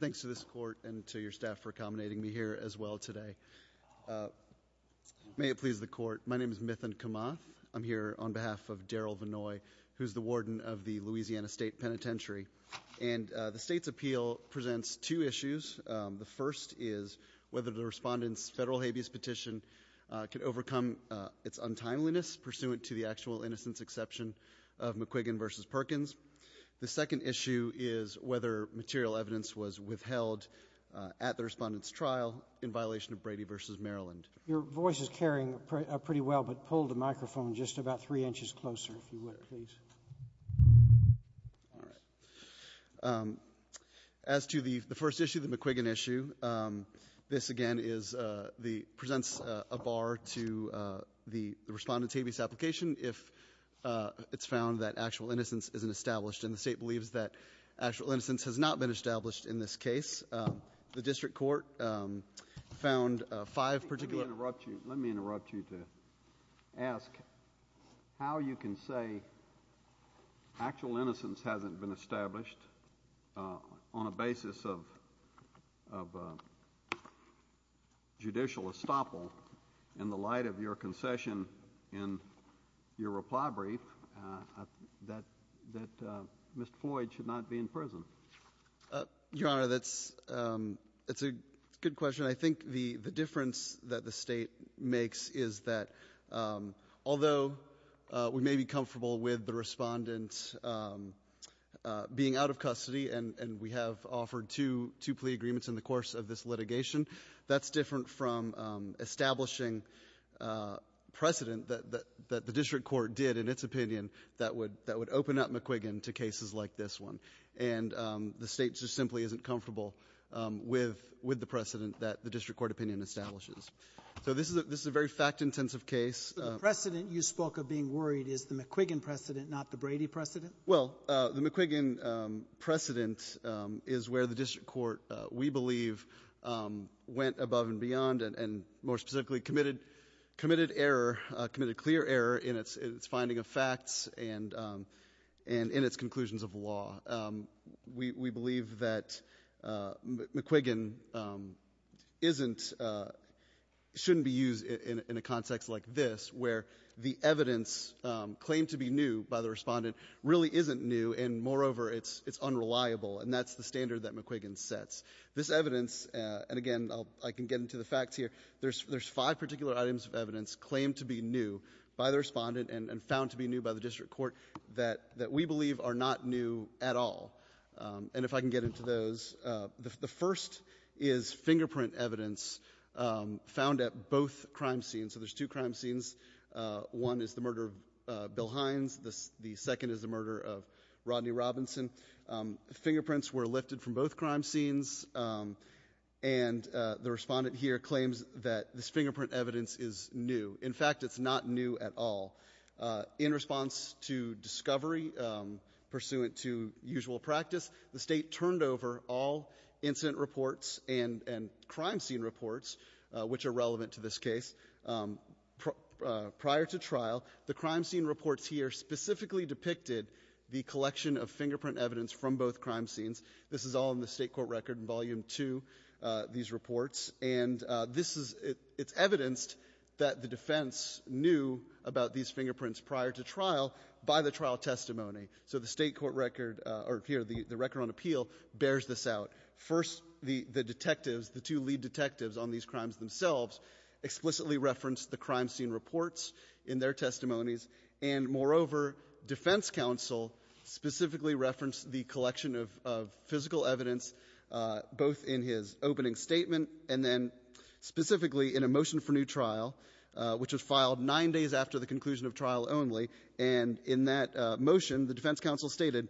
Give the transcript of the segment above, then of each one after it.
Thanks to this court and to your staff for accommodating me here as well today. May it please the court, my name is Mithun Kamath. I'm here on behalf of Darrel Vannoy, who's the warden of the Louisiana State Penitentiary. And the state's appeal presents two issues. The first is whether the respondent's federal habeas petition can overcome its untimeliness pursuant to the actual innocence exception of McQuiggan v. Perkins. The second issue is whether material evidence was withheld at the respondent's trial in violation of Brady v. Maryland. Your voice is carrying pretty well, but pull the microphone just about three inches closer, if you would, please. All right. As to the first issue, the McQuiggan issue, this again presents a bar to the respondent's habeas application if it's found that actual innocence isn't established. And the McQuiggan issue has not been established in this case. The district court found five particular... Let me interrupt you to ask how you can say actual innocence hasn't been established on a basis of judicial estoppel in the light of your concession in your reply brief that Mr. Floyd should not be in prison? Your Honor, that's a good question. I think the difference that the state makes is that although we may be comfortable with the respondent being out of custody, and we have offered two plea agreements in the course of this litigation, that's different from establishing precedent that the district court did in its opinion that would open up McQuiggan to cases like this one. And the state just simply isn't comfortable with the precedent that the district court opinion establishes. So this is a very fact-intensive case. The precedent you spoke of being worried is the McQuiggan precedent, not the McQuiggan precedent. McQuiggan went above and beyond and more specifically committed clear error in its finding of facts and in its conclusions of law. We believe that McQuiggan shouldn't be used in a context like this, where the evidence claimed to be new by the respondent really isn't new, and moreover, it's unreliable. And that's the standard that McQuiggan sets. This evidence, and again, I can get into the facts here, there's five particular items of evidence claimed to be new by the respondent and found to be new by the district court that we believe are not new at all. And if I can get into those, the first is fingerprint evidence found at both crime scenes. So there's two crime scenes. One is the murder of Bill Hines. The fingerprints were lifted from both crime scenes, and the respondent here claims that this fingerprint evidence is new. In fact, it's not new at all. In response to discovery pursuant to usual practice, the State turned over all incident reports and crime scene reports, which are relevant to this case. Prior to trial, the crime scene reports here specifically depicted the crime scenes. This is all in the State court record in volume two, these reports, and it's evidenced that the defense knew about these fingerprints prior to trial by the trial testimony. So the State court record, or here, the record on appeal, bears this out. First, the detectives, the two lead detectives on these crimes themselves, explicitly referenced the crime scene reports in their testimonies, and moreover, defense counsel specifically referenced the collection of physical evidence, both in his opening statement and then specifically in a motion for new trial, which was filed nine days after the conclusion of trial only. And in that motion, the defense counsel stated,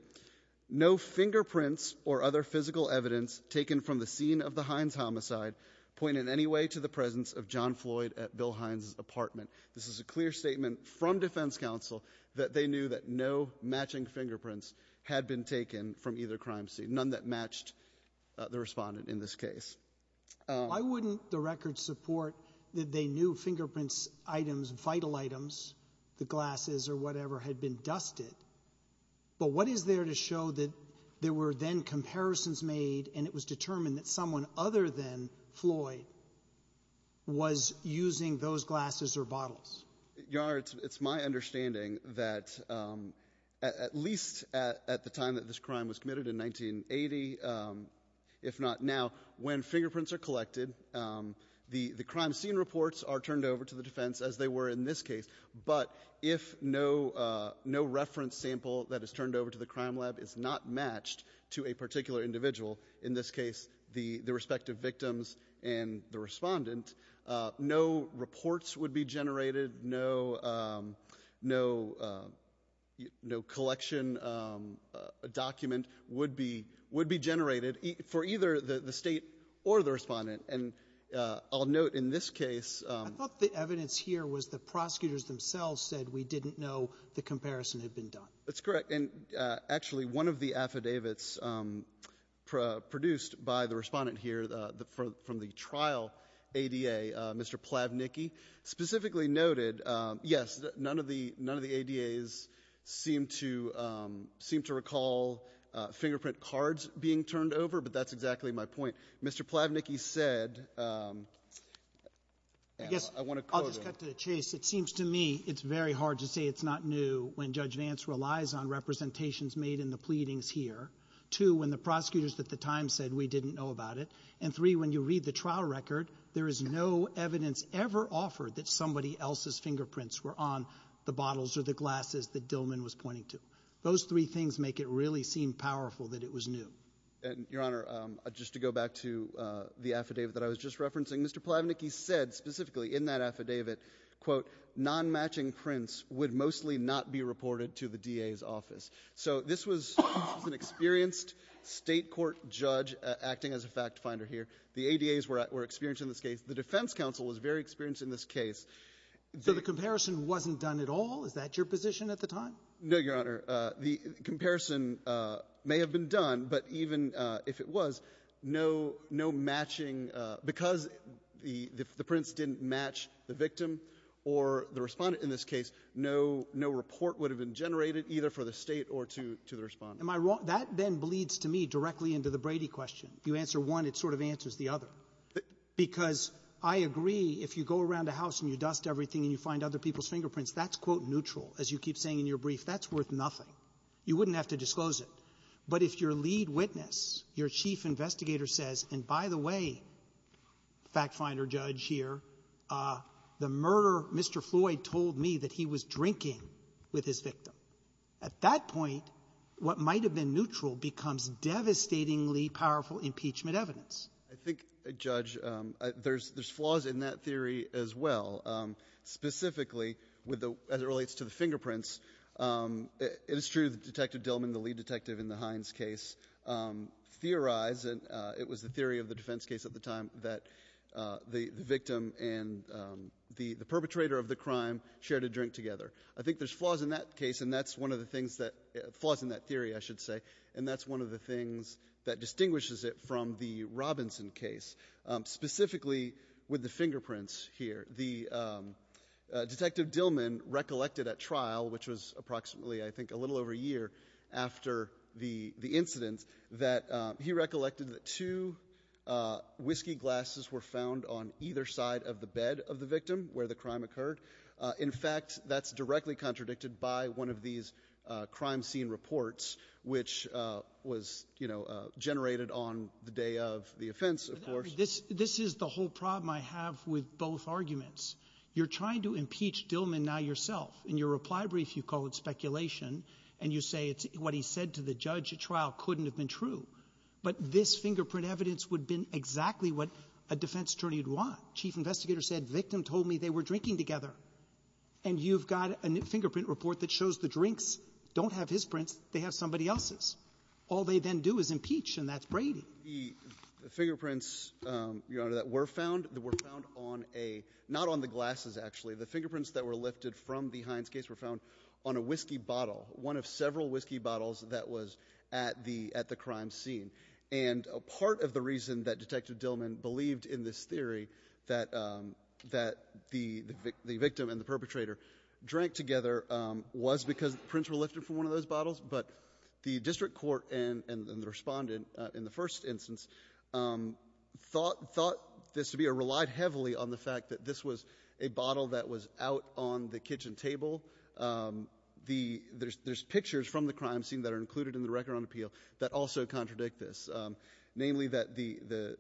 no fingerprints or other physical evidence taken from the scene of the Hines homicide point in any way to the presence of John Floyd at Bill Hines' apartment. This is a clear statement from defense counsel that they knew that no matching fingerprints had been taken from either crime scene, none that matched the Respondent in this case. Sotomayor. Why wouldn't the record support that they knew fingerprints, items, vital items, the glasses or whatever, had been dusted? But what is there to show that there were then comparisons made and it was determined that someone other than Floyd was using those glasses or bottles? Your Honor, it's my understanding that at least at the time that this crime was committed in 1980, if not now, when fingerprints are collected, the crime scene reports are turned over to the defense as they were in this case. But if no reference sample that is turned over to the crime lab is not matched to a particular individual, in this case, the respective victims and the Respondent, no reports would be generated, no collection document would be generated for either the State or the Respondent. And I'll note in this case… I thought the evidence here was the prosecutors themselves said we didn't know the comparison had been done. That's correct. And actually, one of the affidavits produced by the Respondent here from the trial ADA, Mr. Plavnicky, specifically noted, yes, none of the ADAs seem to recall fingerprint cards being turned over, but that's exactly my point. Mr. Plavnicky said… I guess I'll just cut to the chase. It seems to me it's very hard to say it's not new when Judge Vance relies on representations made in the pleadings here to when the prosecutors at the And three, when you read the trial record, there is no evidence ever offered that somebody else's fingerprints were on the bottles or the glasses that Dillman was pointing to. Those three things make it really seem powerful that it was new. And, Your Honor, just to go back to the affidavit that I was just referencing, Mr. Plavnicky said specifically in that affidavit, quote, non-matching prints would mostly not be reported to the DA's acting as a fact finder here. The ADAs were experienced in this case. The Defense Council was very experienced in this case. So the comparison wasn't done at all? Is that your position at the time? No, Your Honor. The comparison may have been done, but even if it was, no matching, because the prints didn't match the victim or the Respondent in this case, no report would have been generated either for the State or to the Respondent. That then bleeds to me directly into the Brady question. You answer one, it sort of answers the other. Because I agree, if you go around a house and you dust everything and you find other people's fingerprints, that's, quote, neutral. As you keep saying in your brief, that's worth nothing. You wouldn't have to disclose it. But if your lead witness, your chief investigator says, and by the way, fact finder, judge here, the murderer, Mr. Floyd, told me that he was drinking with his victim. At that point, what might have been neutral becomes devastatingly powerful impeachment evidence. I think, Judge, there's flaws in that theory as well. Specifically, as it relates to the fingerprints, it is true that Detective Dillman, the lead detective in the Hines case, theorized, and it was the theory of the defense case at the time, that the victim and the perpetrator of the crime shared a drink together. I think there's flaws in that case, and that's one of the things that, flaws in that theory, I should say, and that's one of the things that distinguishes it from the Robinson case. Specifically, with the fingerprints here, the Detective Dillman recollected at trial, which was approximately, I think, a little over a year after the incident, that he recollected that two whiskey glasses were found on either side of the victim where the crime occurred. In fact, that's directly contradicted by one of these crime scene reports, which was, you know, generated on the day of the offense, of course. This is the whole problem I have with both arguments. You're trying to impeach Dillman now yourself. In your reply brief, you call it speculation, and you say it's what he said to the judge at trial couldn't have been true. But this fingerprint evidence would have been exactly what a defense attorney would want. Chief investigator said, victim told me they were drinking together. And you've got a fingerprint report that shows the drinks don't have his prints, they have somebody else's. All they then do is impeach, and that's Brady. The fingerprints, Your Honor, that were found, that were found on a, not on the glasses, actually. The fingerprints that were lifted from the Hines case were found on a whiskey bottle, one of several whiskey bottles that was at the crime scene. And part of the reason that Detective Dillman believed in this theory that the victim and the perpetrator drank together was because the prints were lifted from one of those bottles. But the district court and the respondent in the first instance thought this to be or relied heavily on the fact that this was a bottle that was out on the kitchen table. There's pictures from the crime scene that are included in the record on appeal that also contradict this, namely that the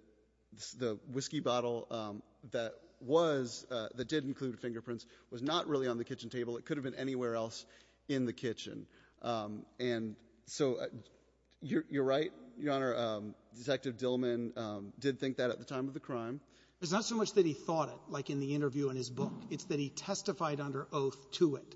whiskey bottle that was, that did include fingerprints, was not really on the kitchen table. It could have been anywhere else in the kitchen. And so you're right, Your Honor. Detective Dillman did think that at the time of the crime. It's not so much that he thought it, like in the interview in his book. It's that he testified under oath to it.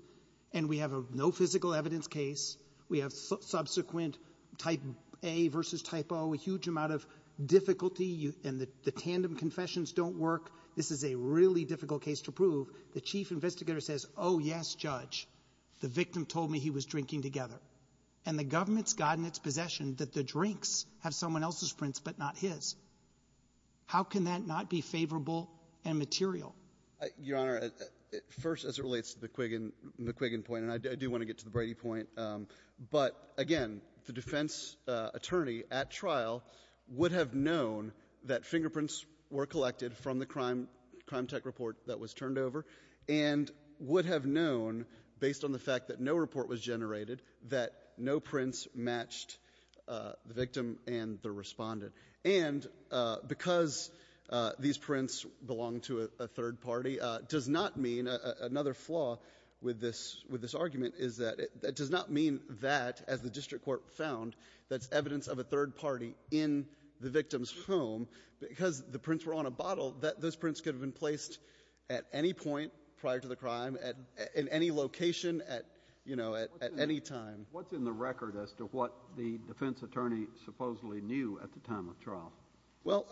And we have a no physical evidence case. We have subsequent type A versus type O, a huge amount of difficulty. And the tandem confessions don't work. This is a really difficult case to prove. The chief investigator says, oh, yes, Judge, the victim told me he was drinking together. And the government's gotten its possession that the drinks have someone else's prints but not his. How can that not be favorable and material? Your Honor, first, as it relates to the Quiggin point, and I do want to get to the Brady point, but again, the defense attorney at trial would have known that fingerprints were collected from the crime tech report that was turned over and would have known, based on the fact that no report was generated, that no prints matched the victim and the respondent. And because these prints belong to a third party does not mean another flaw with this argument is that it does not mean that, as the district court found, that's evidence of a third party in the victim's home. Because the prints were on a bottle, those prints could have been placed at any point prior to the crime, in any location, at, you know, at any time. What's in the record as to what the defense attorney supposedly knew at the time of trial? Well,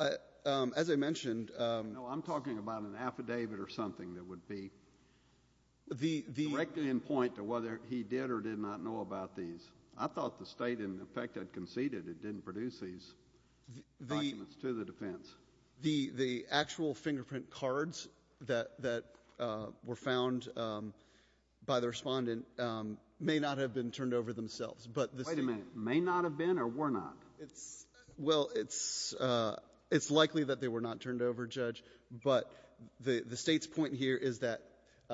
as I mentioned— No, I'm talking about an affidavit or something that would be— Directly in point to whether he did or did not know about these. I thought the state, in effect, had conceded it didn't produce these documents to the defense. The actual fingerprint cards that were found by the respondent may not have been turned over themselves, but the state— Wait a minute. May not have been or were not? Well, it's likely that they were not turned over, Judge, but the state's point here is that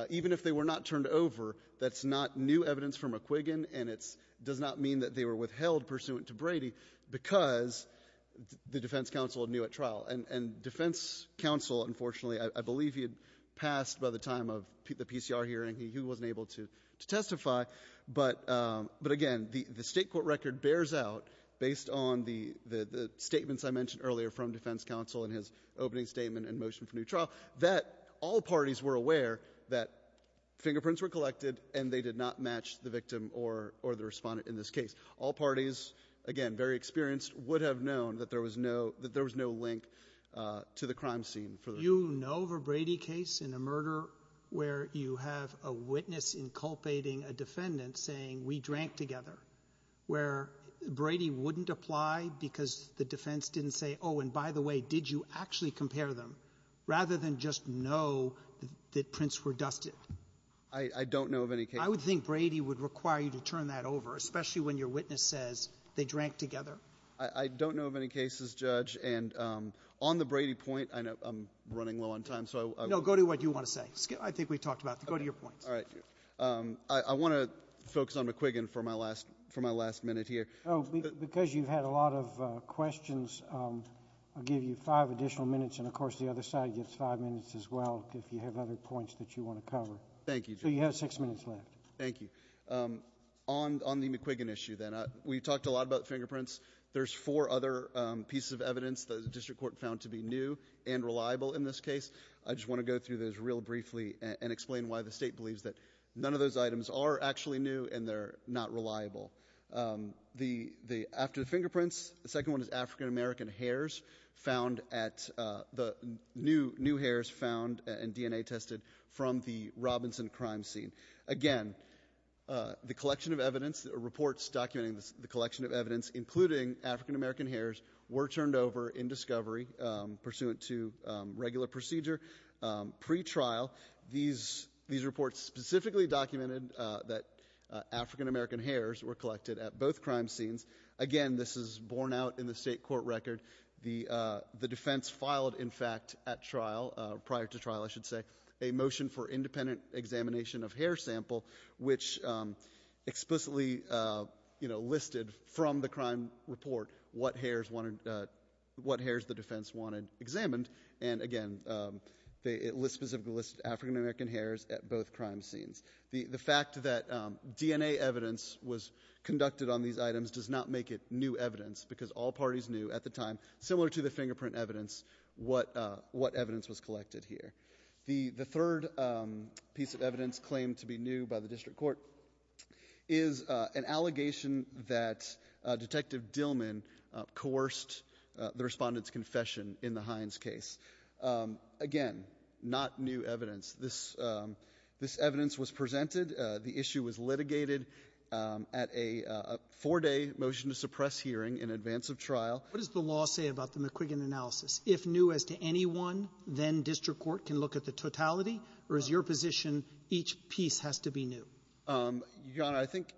even if they were not turned over, that's not new evidence from a Quiggin, and it does not mean that they were withheld pursuant to Brady because the defense counsel knew at trial. And defense counsel, unfortunately, I believe he had passed by the time of the PCR hearing. He wasn't able to testify. But again, the state court record bears out, based on the statements I mentioned earlier from defense counsel in his opening statement and motion for new trial, that all parties were aware that fingerprints were collected and they did not match the victim or the respondent in this case. All parties, again, very experienced, would have known that there was no link to the crime scene. You know of a Brady case in a murder where you have a witness inculpating a defendant saying, we drank together, where Brady wouldn't apply because the defense didn't say, oh, and by the way, did you actually compare them, rather than just know that prints were dusted? I don't know of any cases. I would think Brady would require you to turn that over, especially when your witness says they drank together. I don't know of any cases, Judge. And on the Brady point, I know I'm running low on time, so I will go to what you want to say. I think we talked about it. Go to your point. All right. I want to focus on McQuiggin for my last minute here. Because you've had a lot of questions, I'll give you five additional minutes. And of course, the other side gets five minutes as well, if you have other points that you want to cover. Thank you, Judge. So you have six minutes left. Thank you. On the McQuiggin issue, then, we talked a lot about fingerprints. There's four other pieces of evidence the district court found to be new and reliable in this case. I just want to go through those real briefly and explain why the state believes that none of those items are actually new and they're not reliable. After the fingerprints, the second one is African-American hairs found at the new, new hairs found and DNA tested from the Robinson crime scene. Again, the collection of evidence, reports documenting the collection of evidence, including African-American hairs, were turned over in discovery pursuant to regular procedure pre-trial. These reports specifically documented that African-American hairs were collected at both crime scenes. Again, this is borne out in the state court record. The defense filed, in fact, at trial, prior to trial, I should say, a motion for independent examination of hair sample, which explicitly, you know, listed from the crime report what hairs the defense wanted examined. And again, it specifically listed African-American hairs at both crime scenes. The fact that DNA evidence was conducted on these items does not make it new evidence because all parties knew at the time, similar to the fingerprint evidence, what evidence was collected here. The third piece of evidence claimed to be new by the district court is an allegation that Detective Dillman coerced the respondent's confession in the Hines case. Again, not new evidence. This evidence was presented. The issue was litigated at a four-day motion to suppress hearing in advance of trial. What does the law say about the McQuiggan analysis? If new as to anyone, then district court can look at the totality, or is your position each piece has to be new? I think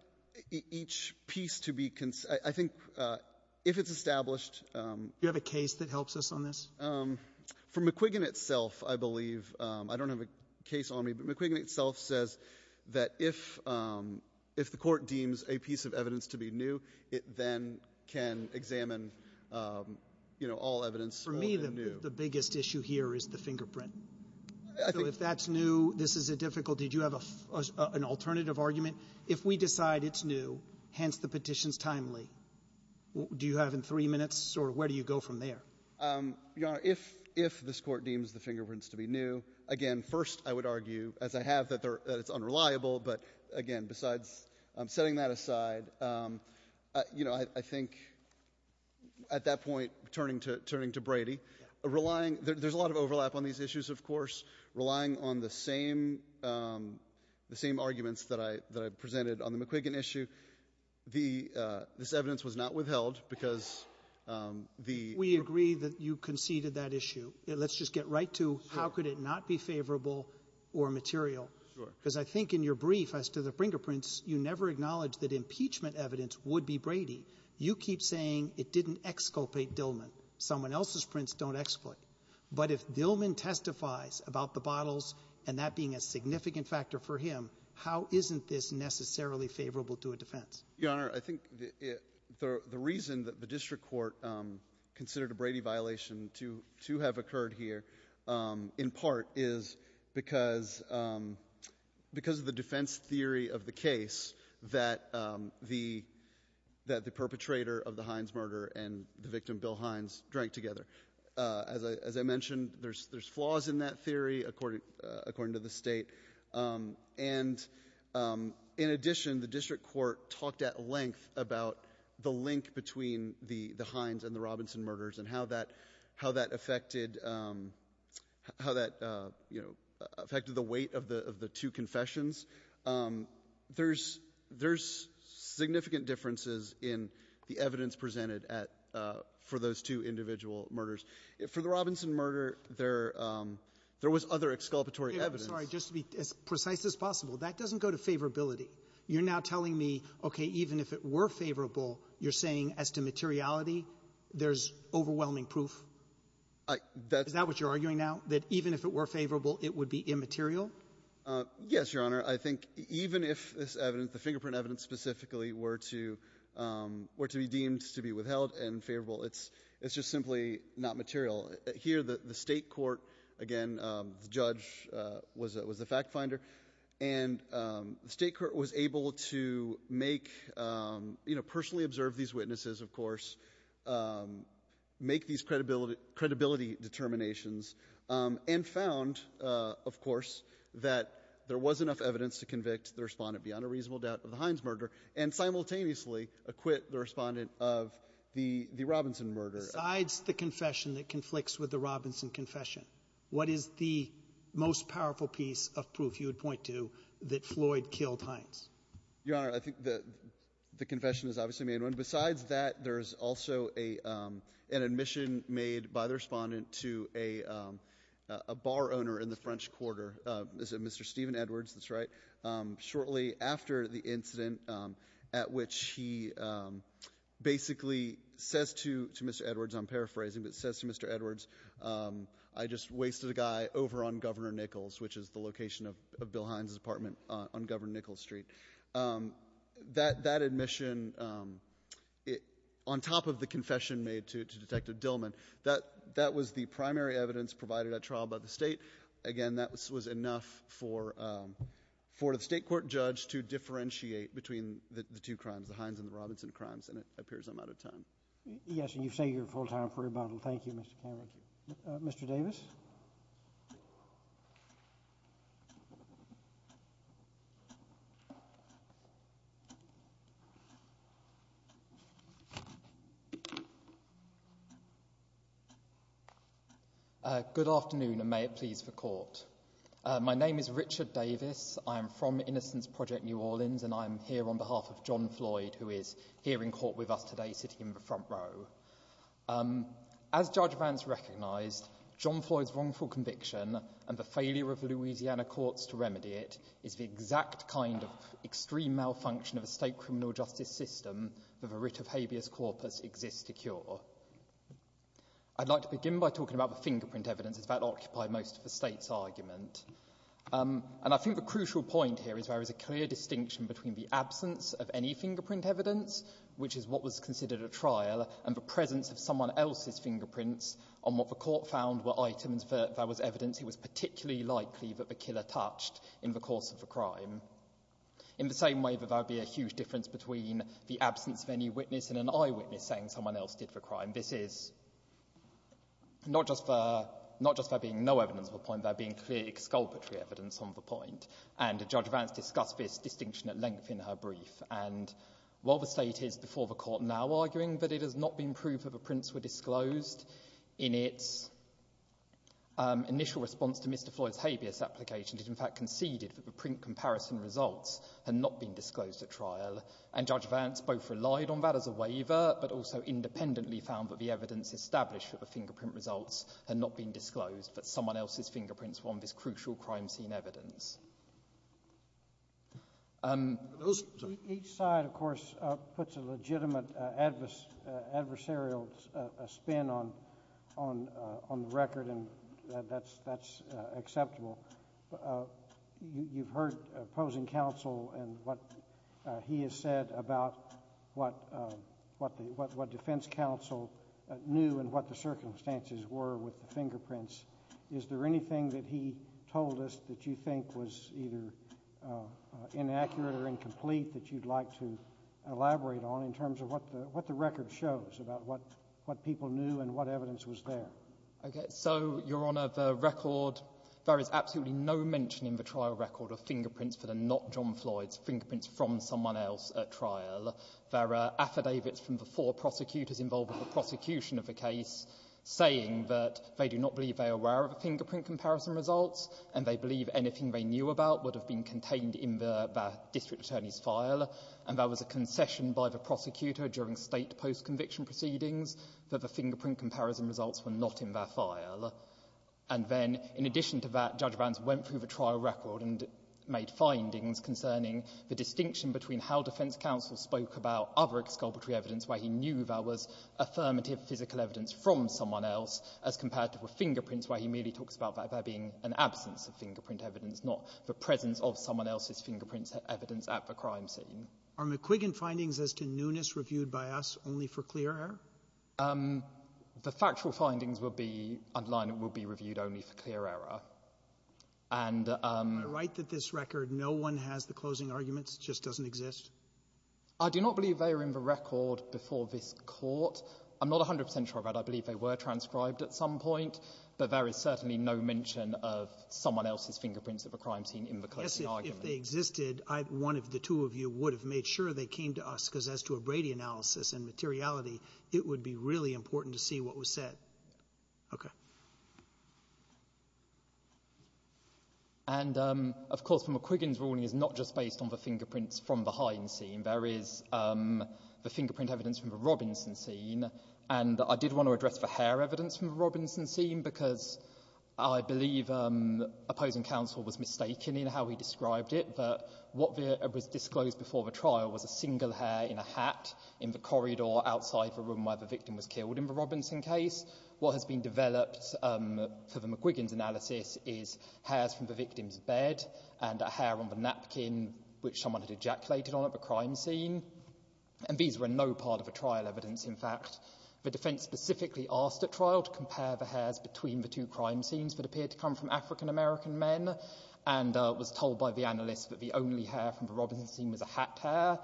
each piece to be concerned, I think if it's established Do you have a case that helps us on this? For McQuiggan itself, I believe, I don't have a case on me, but McQuiggan itself says that if the court deems a piece of evidence to be new, it then can examine, you know, all evidence old and new. For me, the biggest issue here is the fingerprint. So if that's new, this is a difficult, did you have an alternative argument? If we decide it's new, hence the petition's timely, do you have in three minutes or where do you go from there? Your Honor, if this court deems the fingerprints to be new, again, first, I would argue, as I have, that it's unreliable, but again, besides setting that aside, you know, I think at that point, turning to Brady, relying, there's a lot of overlap on these issues, of course, relying on the same arguments that I presented on the McQuiggan issue, this evidence was not withheld because the We agree that you conceded that issue. Let's just get right to how could it not be favorable or material? Sure. Because I think in your brief as to the fingerprints, you never acknowledged that impeachment evidence would be Brady. You keep saying it didn't exculpate Dillman. Someone else's prints don't exculpate. But if Dillman testifies about the bottles and that being a significant factor for him, how isn't this necessarily favorable to a defense? Your Honor, I think the reason that the district court considered a Brady violation to have occurred here in part is because of the defense theory of the case that the perpetrator of the Hines murder and the victim, Bill Hines, drank together. As I mentioned, there's flaws in that theory according to the state. And in addition, the district court talked at length about the link between the Hines and the Robinson murders and how that affected the weight of the two confessions. There's significant differences in the evidence presented for those two individual murders. For the Robinson murder, there was other exculpatory evidence. I'm sorry. Just to be as precise as possible, that doesn't go to favorability. You're now telling me, okay, even if it were favorable, you're saying as to materiality, there's overwhelming proof? That's what you're arguing now, that even if it were favorable, it would be immaterial? Yes, Your Honor. I think even if this evidence, the fingerprint evidence specifically, were to be deemed to be withheld and favorable, it's just simply not material. Here, the state court, again, the judge was the fact finder, and the state court was able to personally observe these witnesses, of course, make these credibility determinations, and found, of course, that there was enough evidence to convict the respondent beyond a reasonable doubt of the Hines murder, and simultaneously acquit the respondent of the Robinson murder. Besides the confession that conflicts with the Robinson confession, what is the most powerful piece of proof you would point to that Floyd killed Hines? Your Honor, I think the confession has obviously made one. Besides that, there's also an admission made by the respondent to a bar owner in the after the incident at which he basically says to Mr. Edwards, I'm paraphrasing, but says to Mr. Edwards, I just wasted a guy over on Governor Nichols, which is the location of Bill Hines' apartment on Governor Nichols Street. That admission, on top of the confession made to Detective Dillman, that was the primary evidence provided at trial by the state. Again, that was enough for the state court judge to differentiate between the two crimes, the Hines and the Robinson crimes, and it appears I'm out of time. Yes, and you say you're full-time for rebuttal. Thank you, Mr. Cameron. Mr. Davis? Good afternoon, and may it please the court. My name is Richard Davis. I am from Innocence Project New Orleans, and I'm here on behalf of John Floyd, who is here in court with us today, sitting in the front row. As Judge Vance recognized, John Floyd's wrongful conviction and the failure of Louisiana courts to remedy it is the exact kind of extreme malfunction of the state criminal justice system that the writ of habeas corpus exists to cure. I'd like to begin by talking about the fingerprint evidence, as that occupied most of the state's argument, and I think the crucial point here is there is a clear distinction between the presence of someone else's fingerprints on what the court found were items that there was evidence it was particularly likely that the killer touched in the course of the crime, in the same way that there would be a huge difference between the absence of any witness and an eyewitness saying someone else did the crime. This is not just there being no evidence of a point, there being clear exculpatory evidence on the point, and Judge Vance discussed this distinction at length in her brief, and while the state is before the court now arguing that it has not been proved that the prints were disclosed, in its initial response to Mr Floyd's habeas application, it in fact conceded that the print comparison results had not been disclosed at trial, and Judge Vance both relied on that as a waiver, but also independently found that the evidence established that the fingerprint results had not been disclosed, that someone else's fingerprints were on this crucial crime scene evidence. Each side, of course, puts a legitimate adversarial spin on the record, and that's acceptable. You've heard opposing counsel and what he has said about what defense counsel knew and what the circumstances were with the fingerprints. Is there anything that he told us that you think was either inaccurate or incomplete that you'd like to elaborate on in terms of what the record shows about what people knew and what evidence was there? So, Your Honor, the record, there is absolutely no mention in the trial record of fingerprints that are not John Floyd's, fingerprints from someone else at trial. There are affidavits from the four prosecutors involved in the prosecution of the case saying that they do not believe they are aware of the fingerprint comparison results, and they believe anything they knew about would have been contained in their district attorney's file, and there was a concession by the prosecutor during state post-conviction proceedings that the fingerprint comparison results were not in their file. And then, in addition to that, Judge Vance went through the trial record and made findings concerning the distinction between how defense counsel spoke about other exculpatory evidence where he knew there was affirmative physical evidence from someone else as compared to the fingerprints where he merely talks about that there being an absence of fingerprint evidence, not the presence of someone else's fingerprint evidence at the crime scene. Are McQuiggan findings as to newness reviewed by us only for clear error? The factual findings will be, underline it, will be reviewed only for clear error. And the right that this record, no one has the closing arguments, just doesn't exist? I do not believe they are in the record before this Court. I'm not 100 percent sure about it. I believe they were transcribed at some point, but there is certainly no mention of someone else's fingerprints at the crime scene in the closing argument. Yes, if they existed, one of the two of you would have made sure they came to us, because as to a Brady analysis and materiality, it would be really important to see what was said. Okay. And, of course, McQuiggan's ruling is not just based on the fingerprints from the Heinz scene. There is the fingerprint evidence from the Robinson scene, and I did want to address the hair evidence from the Robinson scene, because I believe opposing counsel was mistaken in how he described it, but what was disclosed before the trial was a single hair in a hat in the corridor outside the room where the victim was killed in the Robinson case. What has been developed for the McQuiggan's analysis is hairs from the victim's bed and a hair on the napkin which someone had ejaculated on at the crime scene, and these were no part of the trial evidence, in fact. The defense specifically asked at trial to compare the hairs between the two crime scenes that appeared to come from African-American men, and was told by the analysts that the only hair from the Robinson scene was a hat hair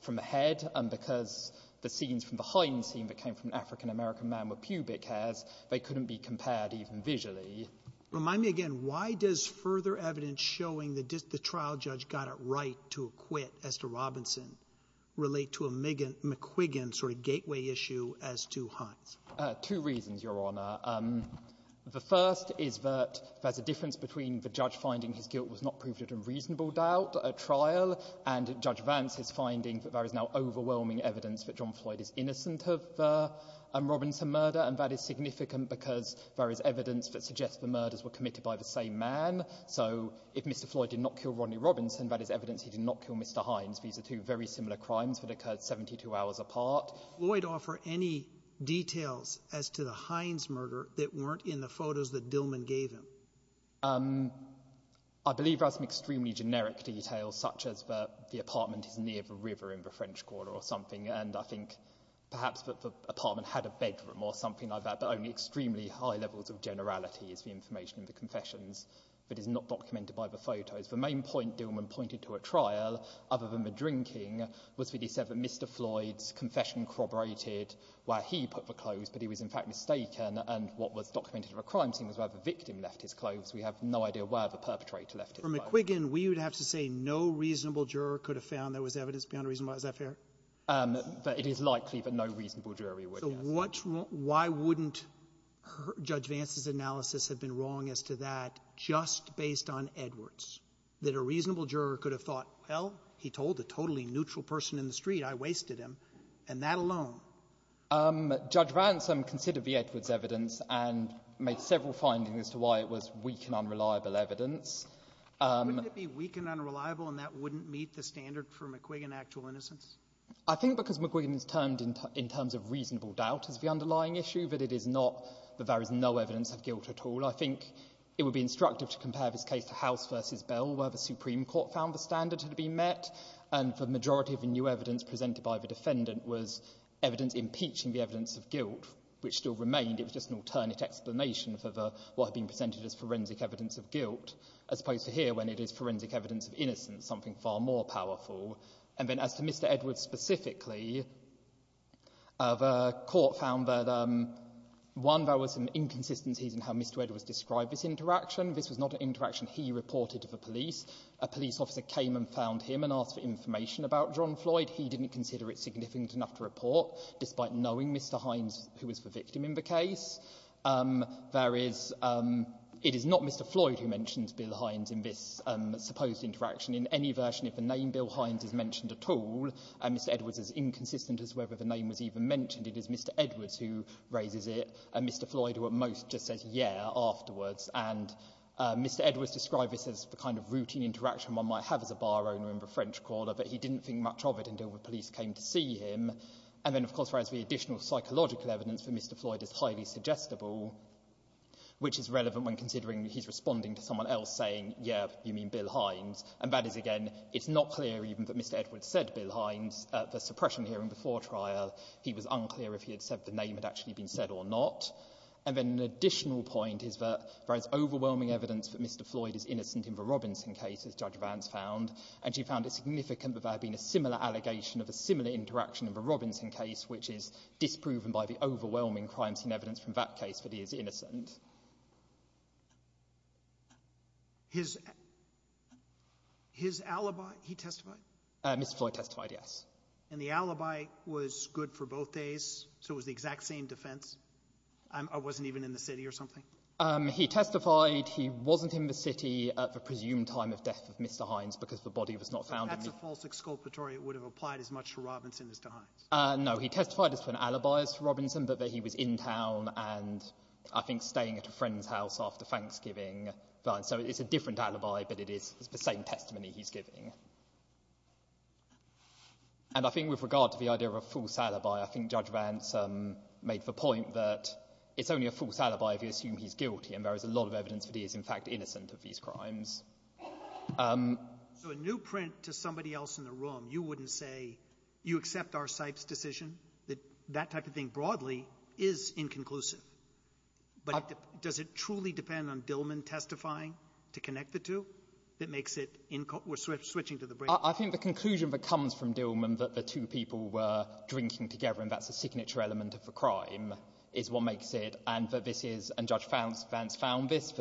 from the head, and because the scenes from the Heinz scene came from an African-American man with pubic hairs, they couldn't be compared even visually. Roberts. Remind me again, why does further evidence showing that the trial judge got it right to acquit Esther Robinson relate to a McQuiggan sort of gateway issue as to Heinz? Fletcher. Two reasons, Your Honor. The first is that there's a difference between the judge finding his guilt was not proved a reasonable doubt at trial and Judge Vance's finding that is now overwhelming evidence that John Floyd is innocent of the Robinson murder, and that is significant because there is evidence that suggests the murders were committed by the same man, so if Mr. Floyd did not kill Rodney Robinson, that is evidence he did not kill Mr. Heinz. These are two very similar crimes that occurred 72 hours apart. Roberts. Did Floyd offer any details as to the Heinz murder that weren't in the photos that Dillman gave him? Fletcher. I believe there are some extremely generic details such as that the apartment is near the river in the French Quarter or something, and I think perhaps that the apartment had a bedroom or something like that, but only extremely high levels of generality is the information in the confessions that is not documented by the photos. The main point Dillman pointed to at trial, other than the drinking, was that he said that Mr. Floyd's confession corroborated where he put the clothes, but he was in fact mistaken, and what was documented of a crime scene was where the victim left his clothes. We have no idea where the perpetrator left his clothes. From McQuiggan, we would have to say no reasonable juror could have found there was evidence beyond reasonable. Is that fair? But it is likely that no reasonable jury would have. So what's wrong? Why wouldn't Judge Vance's analysis have been wrong as to that just based on Edwards, that a reasonable juror could have thought, well, he told a totally neutral person in the street, I wasted him, and that alone? Judge Vance considered the Edwards evidence and made several findings as to why it was weak and unreliable evidence. Wouldn't it be weak and unreliable, and that wouldn't meet the standard for McQuiggan's actual innocence? I think because McQuiggan's termed in terms of reasonable doubt as the underlying issue, that it is not, that there is no evidence of guilt at all. I think it would be instructive to compare this case to House v. Bell, where the Supreme Court found the standard had been met, and the majority of the new evidence presented by the defendant was evidence impeaching the forensic evidence of guilt, as opposed to here, when it is forensic evidence of innocence, something far more powerful. And then as to Mr. Edwards specifically, the court found that, one, there were some inconsistencies in how Mr. Edwards described this interaction. This was not an interaction he reported to the police. A police officer came and found him and asked for information about John Floyd. He didn't consider it significant enough to report, despite knowing Mr. Hines, who was the victim in the case. It is not Mr. Floyd who mentions Bill Hines in this supposed interaction. In any version, if the name Bill Hines is mentioned at all, Mr. Edwards is inconsistent as to whether the name was even mentioned. It is Mr. Edwards who raises it, and Mr. Floyd, who at most just says, yeah, afterwards. And Mr. Edwards described this as the kind of routine interaction one might have as a bar owner in the French Quarter, but he didn't think much of it until the police came to see him. And then, of course, there is the additional psychological evidence that Mr. Floyd is highly suggestible, which is relevant when considering he's responding to someone else saying, yeah, you mean Bill Hines. And that is, again, it's not clear even that Mr. Edwards said Bill Hines at the suppression hearing before trial. He was unclear if he had said the name had actually been said or not. And then an additional point is that there is overwhelming evidence that Mr. Floyd is innocent. He testified? Mr. Floyd testified, yes. And the alibi was good for both days, so it was the exact same defense? I wasn't even in the city or something? He testified he wasn't in the city at the presumed time of death of Mr. Hines because the body was not found. So that's a false exculpatory that would have applied as much to Robinson as to Hines? No, he testified it's an alibi for Robinson, but that he was in town and I think staying at a friend's house after Thanksgiving. So it's a different alibi, but it is the same testimony he's giving. And I think with regard to the idea of a false alibi, I think Judge Vance made the point that it's only a false alibi if you assume he's guilty, and there is a lot of evidence that he is, in fact, innocent of these crimes. So a new print to somebody else in the room, you wouldn't say, you accept R. Sipes' decision? That type of thing, broadly, is inconclusive, but does it truly depend on Dillman testifying to connect the two? I think the conclusion that comes from Dillman that the two people were drinking together, and that's a signature element of the crime, is what makes it, and Judge Vance found this,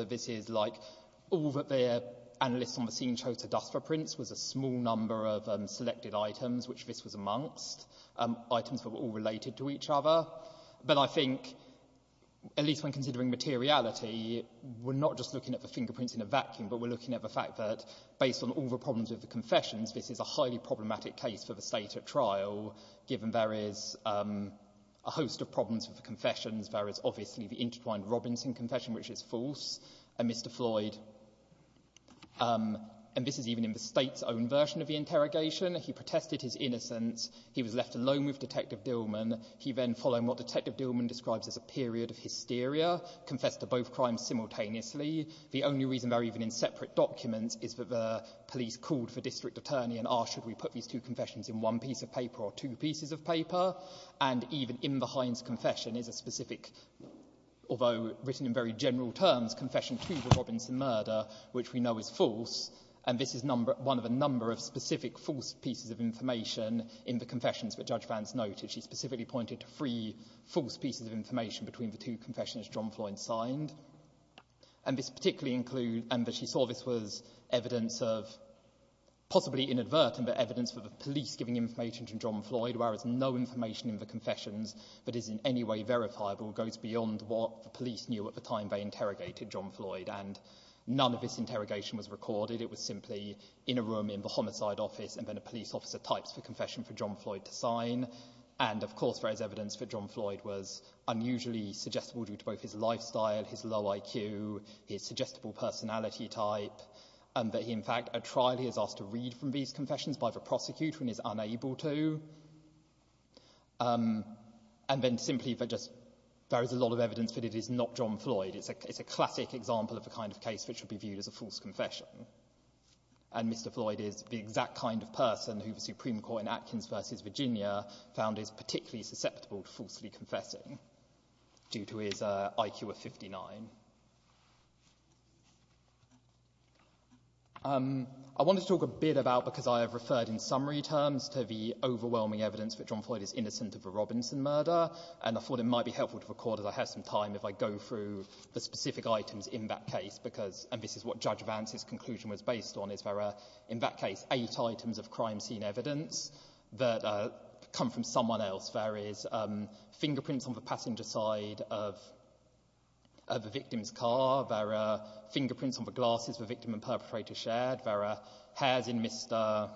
like, all that the analysts on the scene chose to dust for prints was a small number of selected items, which this was amongst, items that were all related to each other. But I think, at least when considering materiality, we're not just looking at the fingerprints in a vacuum, but we're looking at the fact that, based on all the problems with the confessions, this is a highly problematic case for the state at trial, given there is a host of problems with Mr. Floyd. And this is even in the state's own version of the interrogation. He protested his innocence. He was left alone with Detective Dillman. He then followed what Detective Dillman describes as a period of hysteria, confessed to both crimes simultaneously. The only reason they're even in separate documents is that the police called for district attorney and asked, should we put these two confessions in one piece of paper or two pieces of paper? And even in the is a specific, although written in very general terms, confession to the Robinson murder, which we know is false. And this is one of a number of specific false pieces of information in the confessions that Judge Vance noted. She specifically pointed to three false pieces of information between the two confessions John Floyd signed. And this particularly includes, and that she saw this was evidence of, possibly inadvertent, but evidence for the police giving information to John Floyd, whereas no information in the any way verifiable goes beyond what the police knew at the time they interrogated John Floyd. And none of this interrogation was recorded. It was simply in a room in the homicide office. And then a police officer types for confession for John Floyd to sign. And of course, there is evidence for John Floyd was unusually suggestible due to both his lifestyle, his low IQ, his suggestible personality type, and that he in fact, a trial he has asked to read from these but just there is a lot of evidence that it is not John Floyd. It's a classic example of the kind of case which would be viewed as a false confession. And Mr. Floyd is the exact kind of person who the Supreme Court in Atkins versus Virginia found is particularly susceptible to falsely confessing due to his IQ of 59. I wanted to talk a bit about because I have referred in summary terms to the overwhelming evidence that John Floyd is innocent of a thought it might be helpful to record as I have some time if I go through the specific items in that case because and this is what Judge Vance's conclusion was based on is there are in that case eight items of crime scene evidence that come from someone else. There is fingerprints on the passenger side of the victim's car. There are fingerprints on the glasses the victim and perpetrator shared. There are hairs in Mr.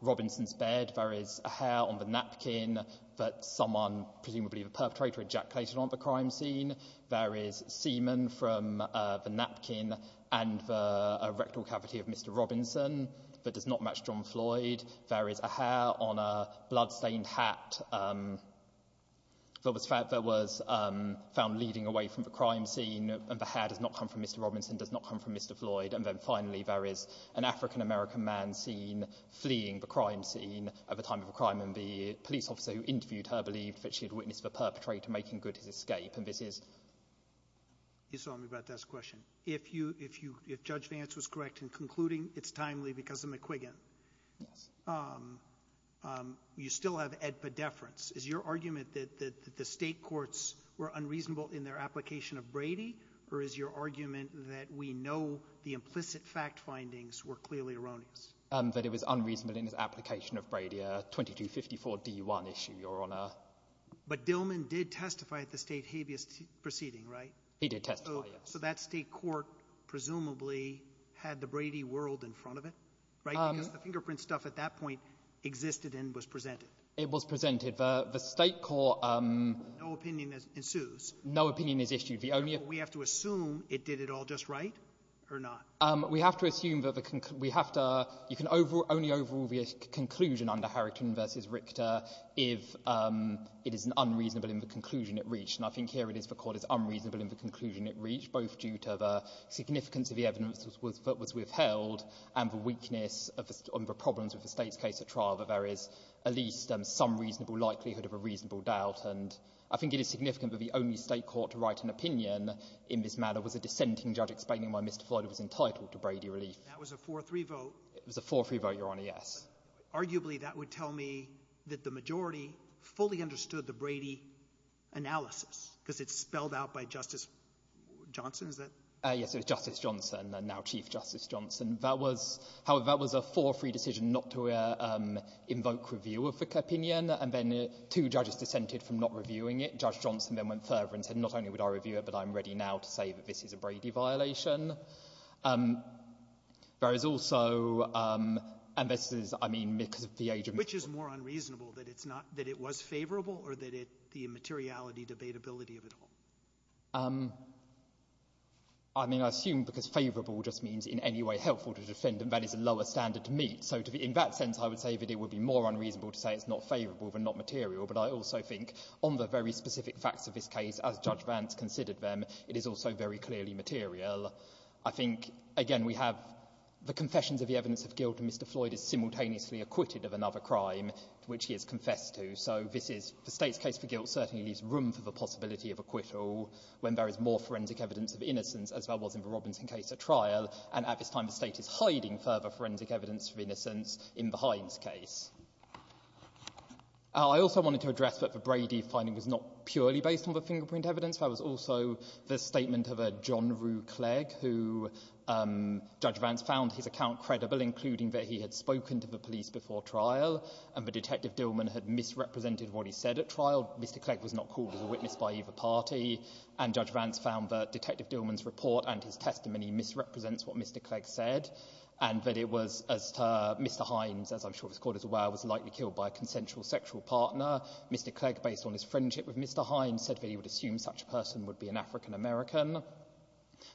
Robinson's bed. There is a hair on the napkin that someone presumably the perpetrator ejaculated on the crime scene. There is semen from the napkin and the rectal cavity of Mr. Robinson that does not match John Floyd. There is a hair on a blood stained hat that was found leading away from the crime scene and the hair does not come from Mr. Robinson does not come from Mr. Floyd. And then finally there is an African-American man seen her believe she witnessed the perpetrator making good his escape. You saw me about that question. If Judge Vance was correct in concluding it is timely because of McQuiggan, you still have a deference. Is your argument that the state courts were unreasonable in their application of Brady or is your argument that we know the implicit fact findings were erroneous? That it was unreasonable in his application of Brady, a 2254 D1 issue, Your Honor. But Dillman did testify at the state habeas proceeding, right? He did testify, yes. So that state court presumably had the Brady world in front of it, right? Because the fingerprint stuff at that point existed and was presented. It was presented. The state court No opinion ensues. No opinion is issued. We have to assume it did it all just right or not. We have to assume that you can only overrule the conclusion under Harrington v. Richter if it is unreasonable in the conclusion it reached. And I think here it is the court is unreasonable in the conclusion it reached both due to the significance of the evidence that was withheld and the weakness of the problems with the state's case at trial that there is at least some reasonable likelihood of a reasonable doubt. And I think it is significant that the only state court to write an opinion in this matter was a dissenting judge explaining why Mr. Floyd was entitled to Brady relief. That was a 4-3 vote. It was a 4-3 vote, Your Honor, yes. Arguably, that would tell me that the majority fully understood the Brady analysis because it's spelled out by Justice Johnson, is that? Yes, it was Justice Johnson, now Chief Justice Johnson. However, that was a 4-3 decision not to invoke review of the opinion. And then two judges dissented from not reviewing it. Judge Johnson then went further and said, not only would I review it, but I'm ready now to say that this is a Brady violation. There is also — and this is, I mean, because of the age of — Which is more unreasonable, that it's not — that it was favorable or that it — the immateriality, debatability of it all? I mean, I assume because favorable just means in any way helpful to the defendant, that is a lower standard to meet. So in that sense, I would say that it would be more unreasonable to say it's not favorable than not material. But I also think on the very I think, again, we have the confessions of the evidence of guilt, and Mr. Floyd is simultaneously acquitted of another crime to which he has confessed to. So this is — the State's case for guilt certainly leaves room for the possibility of acquittal when there is more forensic evidence of innocence, as there was in the Robinson case at trial. And at this time, the State is hiding further forensic evidence of innocence in the Hines case. I also wanted to address that the Brady finding was not purely based on the fingerprint evidence. That was also the statement of a John Rue Clegg, who — Judge Vance found his account credible, including that he had spoken to the police before trial, and that Detective Dillman had misrepresented what he said at trial. Mr. Clegg was not called as a witness by either party. And Judge Vance found that Detective Dillman's report and his testimony misrepresents what Mr. Clegg said, and that it was — Mr. Hines, as I'm sure it was called as well, was likely killed by a consensual sexual partner. Mr. Clegg, based on his friendship with Mr. Hines, said that he would assume such a person would be an African-American,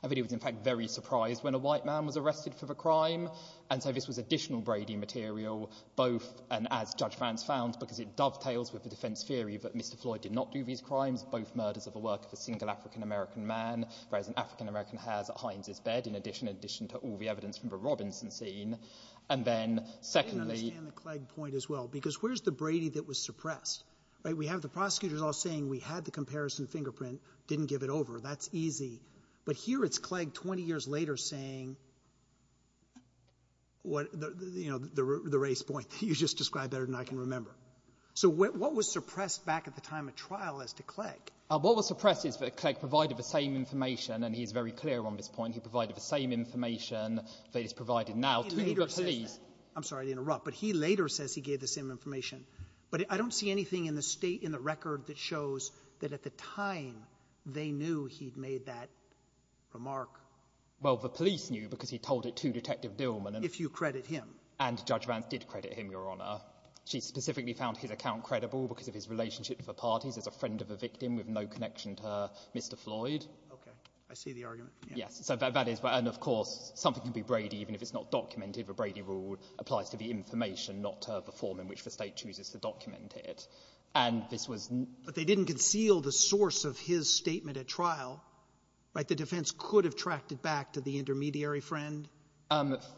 and that he was, in fact, very surprised when a white man was arrested for the crime. And so this was additional Brady material, both — and as Judge Vance found, because it dovetails with the defense theory that Mr. Floyd did not do these crimes, both murders of the work of a single African-American man, whereas an African-American has at Hines' bed, in addition to all the evidence from the Robinson scene. And then, secondly — I didn't understand the Clegg point as well, because where's the Brady that was suppressed? Right? We have the prosecutors all saying we had the comparison fingerprint, didn't give it over. That's easy. But here it's Clegg, 20 years later, saying what — you know, the race point that you just described better than I can remember. So what was suppressed back at the time of trial as to Clegg? What was suppressed is that Clegg provided the same information — and he's very clear on this point — he provided the same information that he's provided now to the police. I'm sorry to interrupt, but he later says he gave the same information. But I don't see anything in the state — in the record that shows that at the time they knew he'd made that remark. Well, the police knew because he told it to Detective Dillman. If you credit him. And Judge Vance did credit him, Your Honor. She specifically found his account credible because of his relationship with the parties as a friend of the victim with no connection to Mr. Floyd. Okay. I see the argument. Yes. So that is — and, of course, something can be Brady even if it's not documented. The Brady rule applies to the information, not the form in which the state chooses to document it. And this was — But they didn't conceal the source of his statement at trial, right? The defense could have tracked it back to the intermediary friend.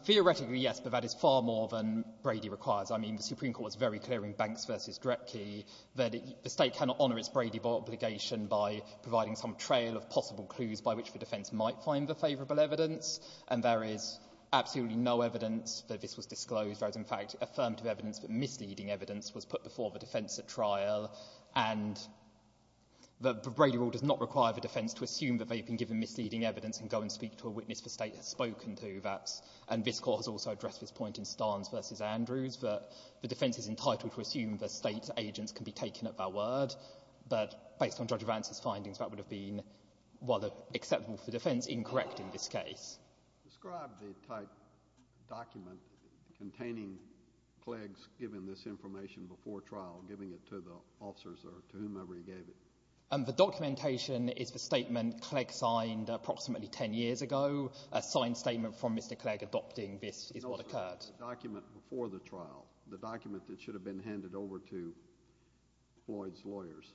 Theoretically, yes, but that is far more than Brady requires. I mean, the Supreme Court was very clear in Banks v. Drepke that the state cannot honor its Brady obligation by providing some trail of possible clues by which the defense might find the favorable evidence. And there is absolutely no evidence that this was disclosed. There is, in fact, affirmative evidence that misleading evidence was put before the defense at trial. And the Brady rule does not require the defense to assume that they've been given misleading evidence and go and speak to a witness the state has spoken to. That's — and this court has also addressed this point in Starnes v. Andrews that the defense is entitled to assume the state's agents can be taken at their word. But based on Judge Vance's findings, that would have been, while acceptable for defense, incorrect in this case. Describe the type document containing Clegg's giving this information before trial, giving it to the officers or to whomever he gave it. And the documentation is the statement Clegg signed approximately 10 years ago, a signed statement from Mr. Clegg adopting this is what occurred. Document before the trial, the document that should have been handed over to Floyd's lawyers.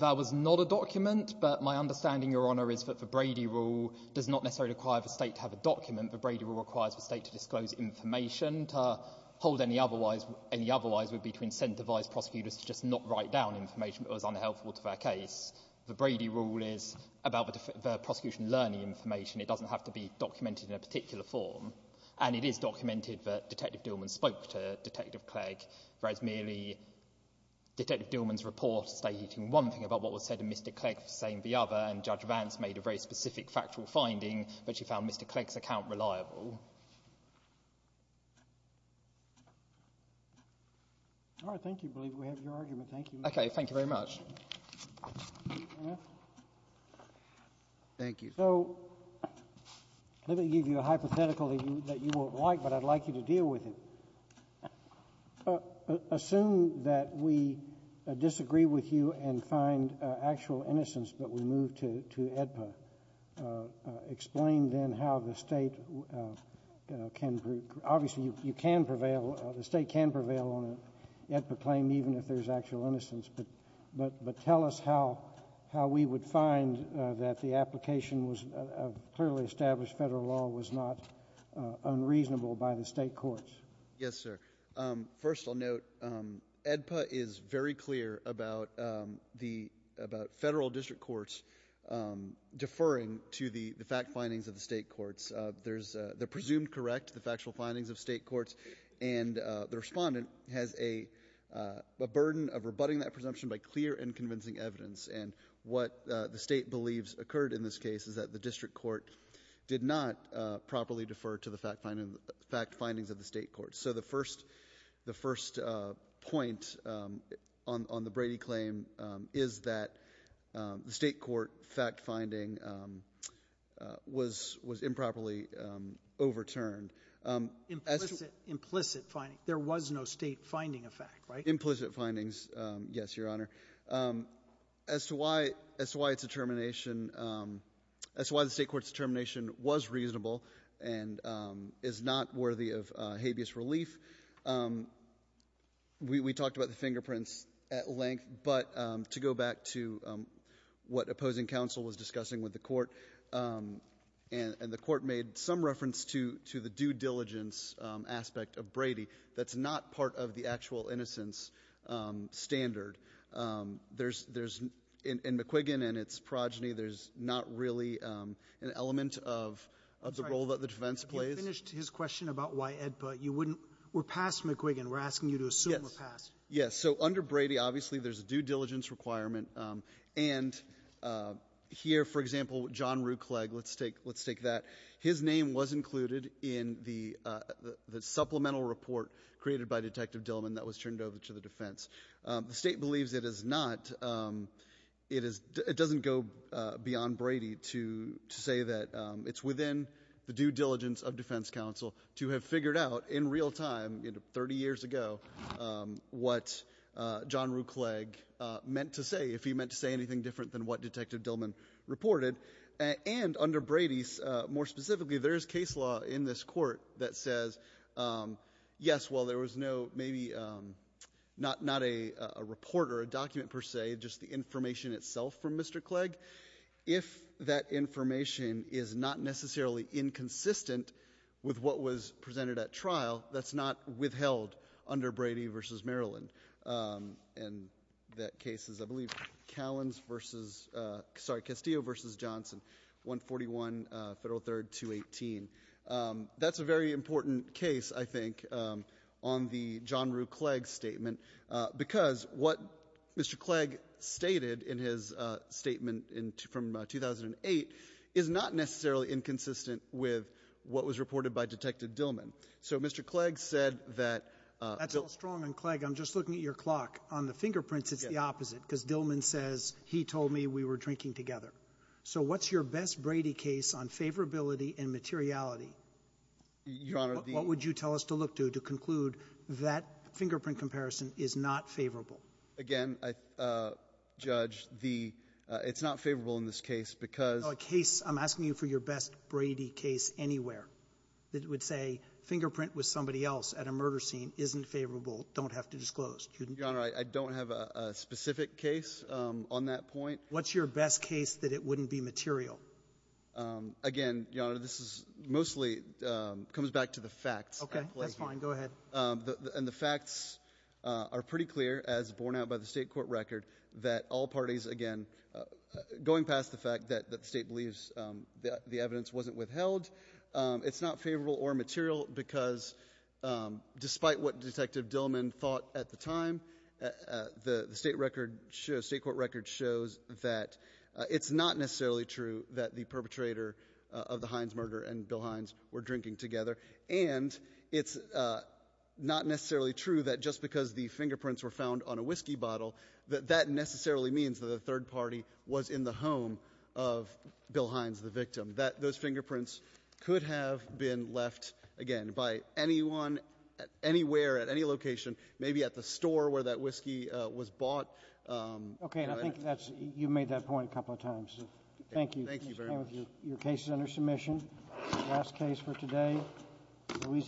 That was not a document, but my understanding, Your Honor, is that the Brady rule does not require the state to have a document. The Brady rule requires the state to disclose information, to hold any otherwise would be to incentivize prosecutors to just not write down information that was unhelpful to their case. The Brady rule is about the prosecution learning information. It doesn't have to be documented in a particular form. And it is documented that Detective Dillman spoke to Detective Clegg, whereas merely Detective Dillman's report stating one thing about what was said and Mr. Clegg saying the other. And Judge Vance made a very specific factual finding that she found Mr. Clegg's account reliable. All right. Thank you. I believe we have your argument. Thank you. Okay. Thank you very much. Thank you. So let me give you a hypothetical that you won't like, but I'd like you to deal with it. Assume that we disagree with you and find actual innocence, but we move to AEDPA. Explain then how the state can prevail. Obviously, you can prevail. The state can prevail on an AEDPA claim, even if there's actual innocence. But tell us how we would find that the application of clearly established federal law was not unreasonable by the state courts. Yes, sir. First, I'll note AEDPA is very clear about federal district courts deferring to the fact findings of the state courts. There's the presumed correct, the factual findings of state courts, and the respondent has a burden of rebutting that presumption by clear and convincing evidence. And what the state believes occurred in this case is that the district court did not properly defer to the fact findings of the state courts. So the first point on the Brady claim is that the state court fact finding was improperly overturned. Implicit finding. There was no state finding of fact, right? Implicit findings, yes, Your Honor. As to why the state court's determination was reasonable and is not worthy of habeas relief, we talked about the fingerprints at length. But to go back to what opposing counsel was discussing with the court, and the court made some reference to the due diligence aspect of Brady that's not part of the actual innocence standard. There's — in McQuiggan and its progeny, there's not really an element of the role that the defense plays. You finished his question about why EDPA. You wouldn't — we're past McQuiggan. We're asking you to assume we're past. Yes. So under Brady, obviously, there's a due diligence requirement. And here, for example, John Rue Clegg, let's take that. His name was included in the supplemental report created by Detective Dillman that was turned over to the defense. The state believes it is not — it doesn't go beyond Brady to say that it's within the due diligence of defense counsel to have figured out in real time, 30 years ago, what John Rue Clegg meant to say, if he meant to say anything different than what Detective Dillman reported. And under Brady, more specifically, there is case law in this court that says, yes, while there was no — maybe not a report or a document, per se, just the information itself from Mr. Clegg, if that information is not necessarily inconsistent with what was presented at trial, that's not withheld under Brady versus Maryland. And that case is, I believe, Callins versus — sorry, Castillo versus Johnson, 141 Federal 3rd, 218. That's a very important case, I think, on the John Rue Clegg statement, because what Mr. Clegg stated in his statement from 2008 is not necessarily inconsistent with what was reported by Detective Dillman. So Mr. Clegg said that — MR. CLEGG, I'm just looking at your clock. On the fingerprints, it's the opposite, because Dillman says, he told me we were drinking together. So what's your best Brady case on favorability and materiality? MR. CLEGG, what would you tell us to look to to conclude that fingerprint comparison is not favorable? MR. CLEGG, again, I — Judge, the — it's not favorable in this case because — MR. CLEGG, a case — I'm asking you for your best Brady case anywhere that would say fingerprint with somebody else at a murder scene isn't favorable, don't have to disclose. MR. CLEGG, Your Honor, I don't have a specific case on that point. What's your best case that it wouldn't be material? MR. CLEGG, again, Your Honor, this is mostly — comes back to the facts. MR. CLEGG, okay. That's fine. Go ahead. MR. CLEGG, and the facts are pretty clear, as borne out by the State court record, that all parties, again, going past the fact that the State believes the evidence wasn't withheld, it's not favorable or material because, despite what Detective It's not necessarily true that the perpetrator of the Hines murder and Bill Hines were drinking together, and it's not necessarily true that just because the fingerprints were found on a whiskey bottle, that that necessarily means that a third party was in the home of Bill Hines, the victim, that those fingerprints could have been left, again, by anyone, anywhere, at any location, maybe at the store where that whiskey was bought. Okay. And I think that's — you've made that point a couple of times. Thank you. Thank you very much. Your case is under submission. Last case for today, Louisiana.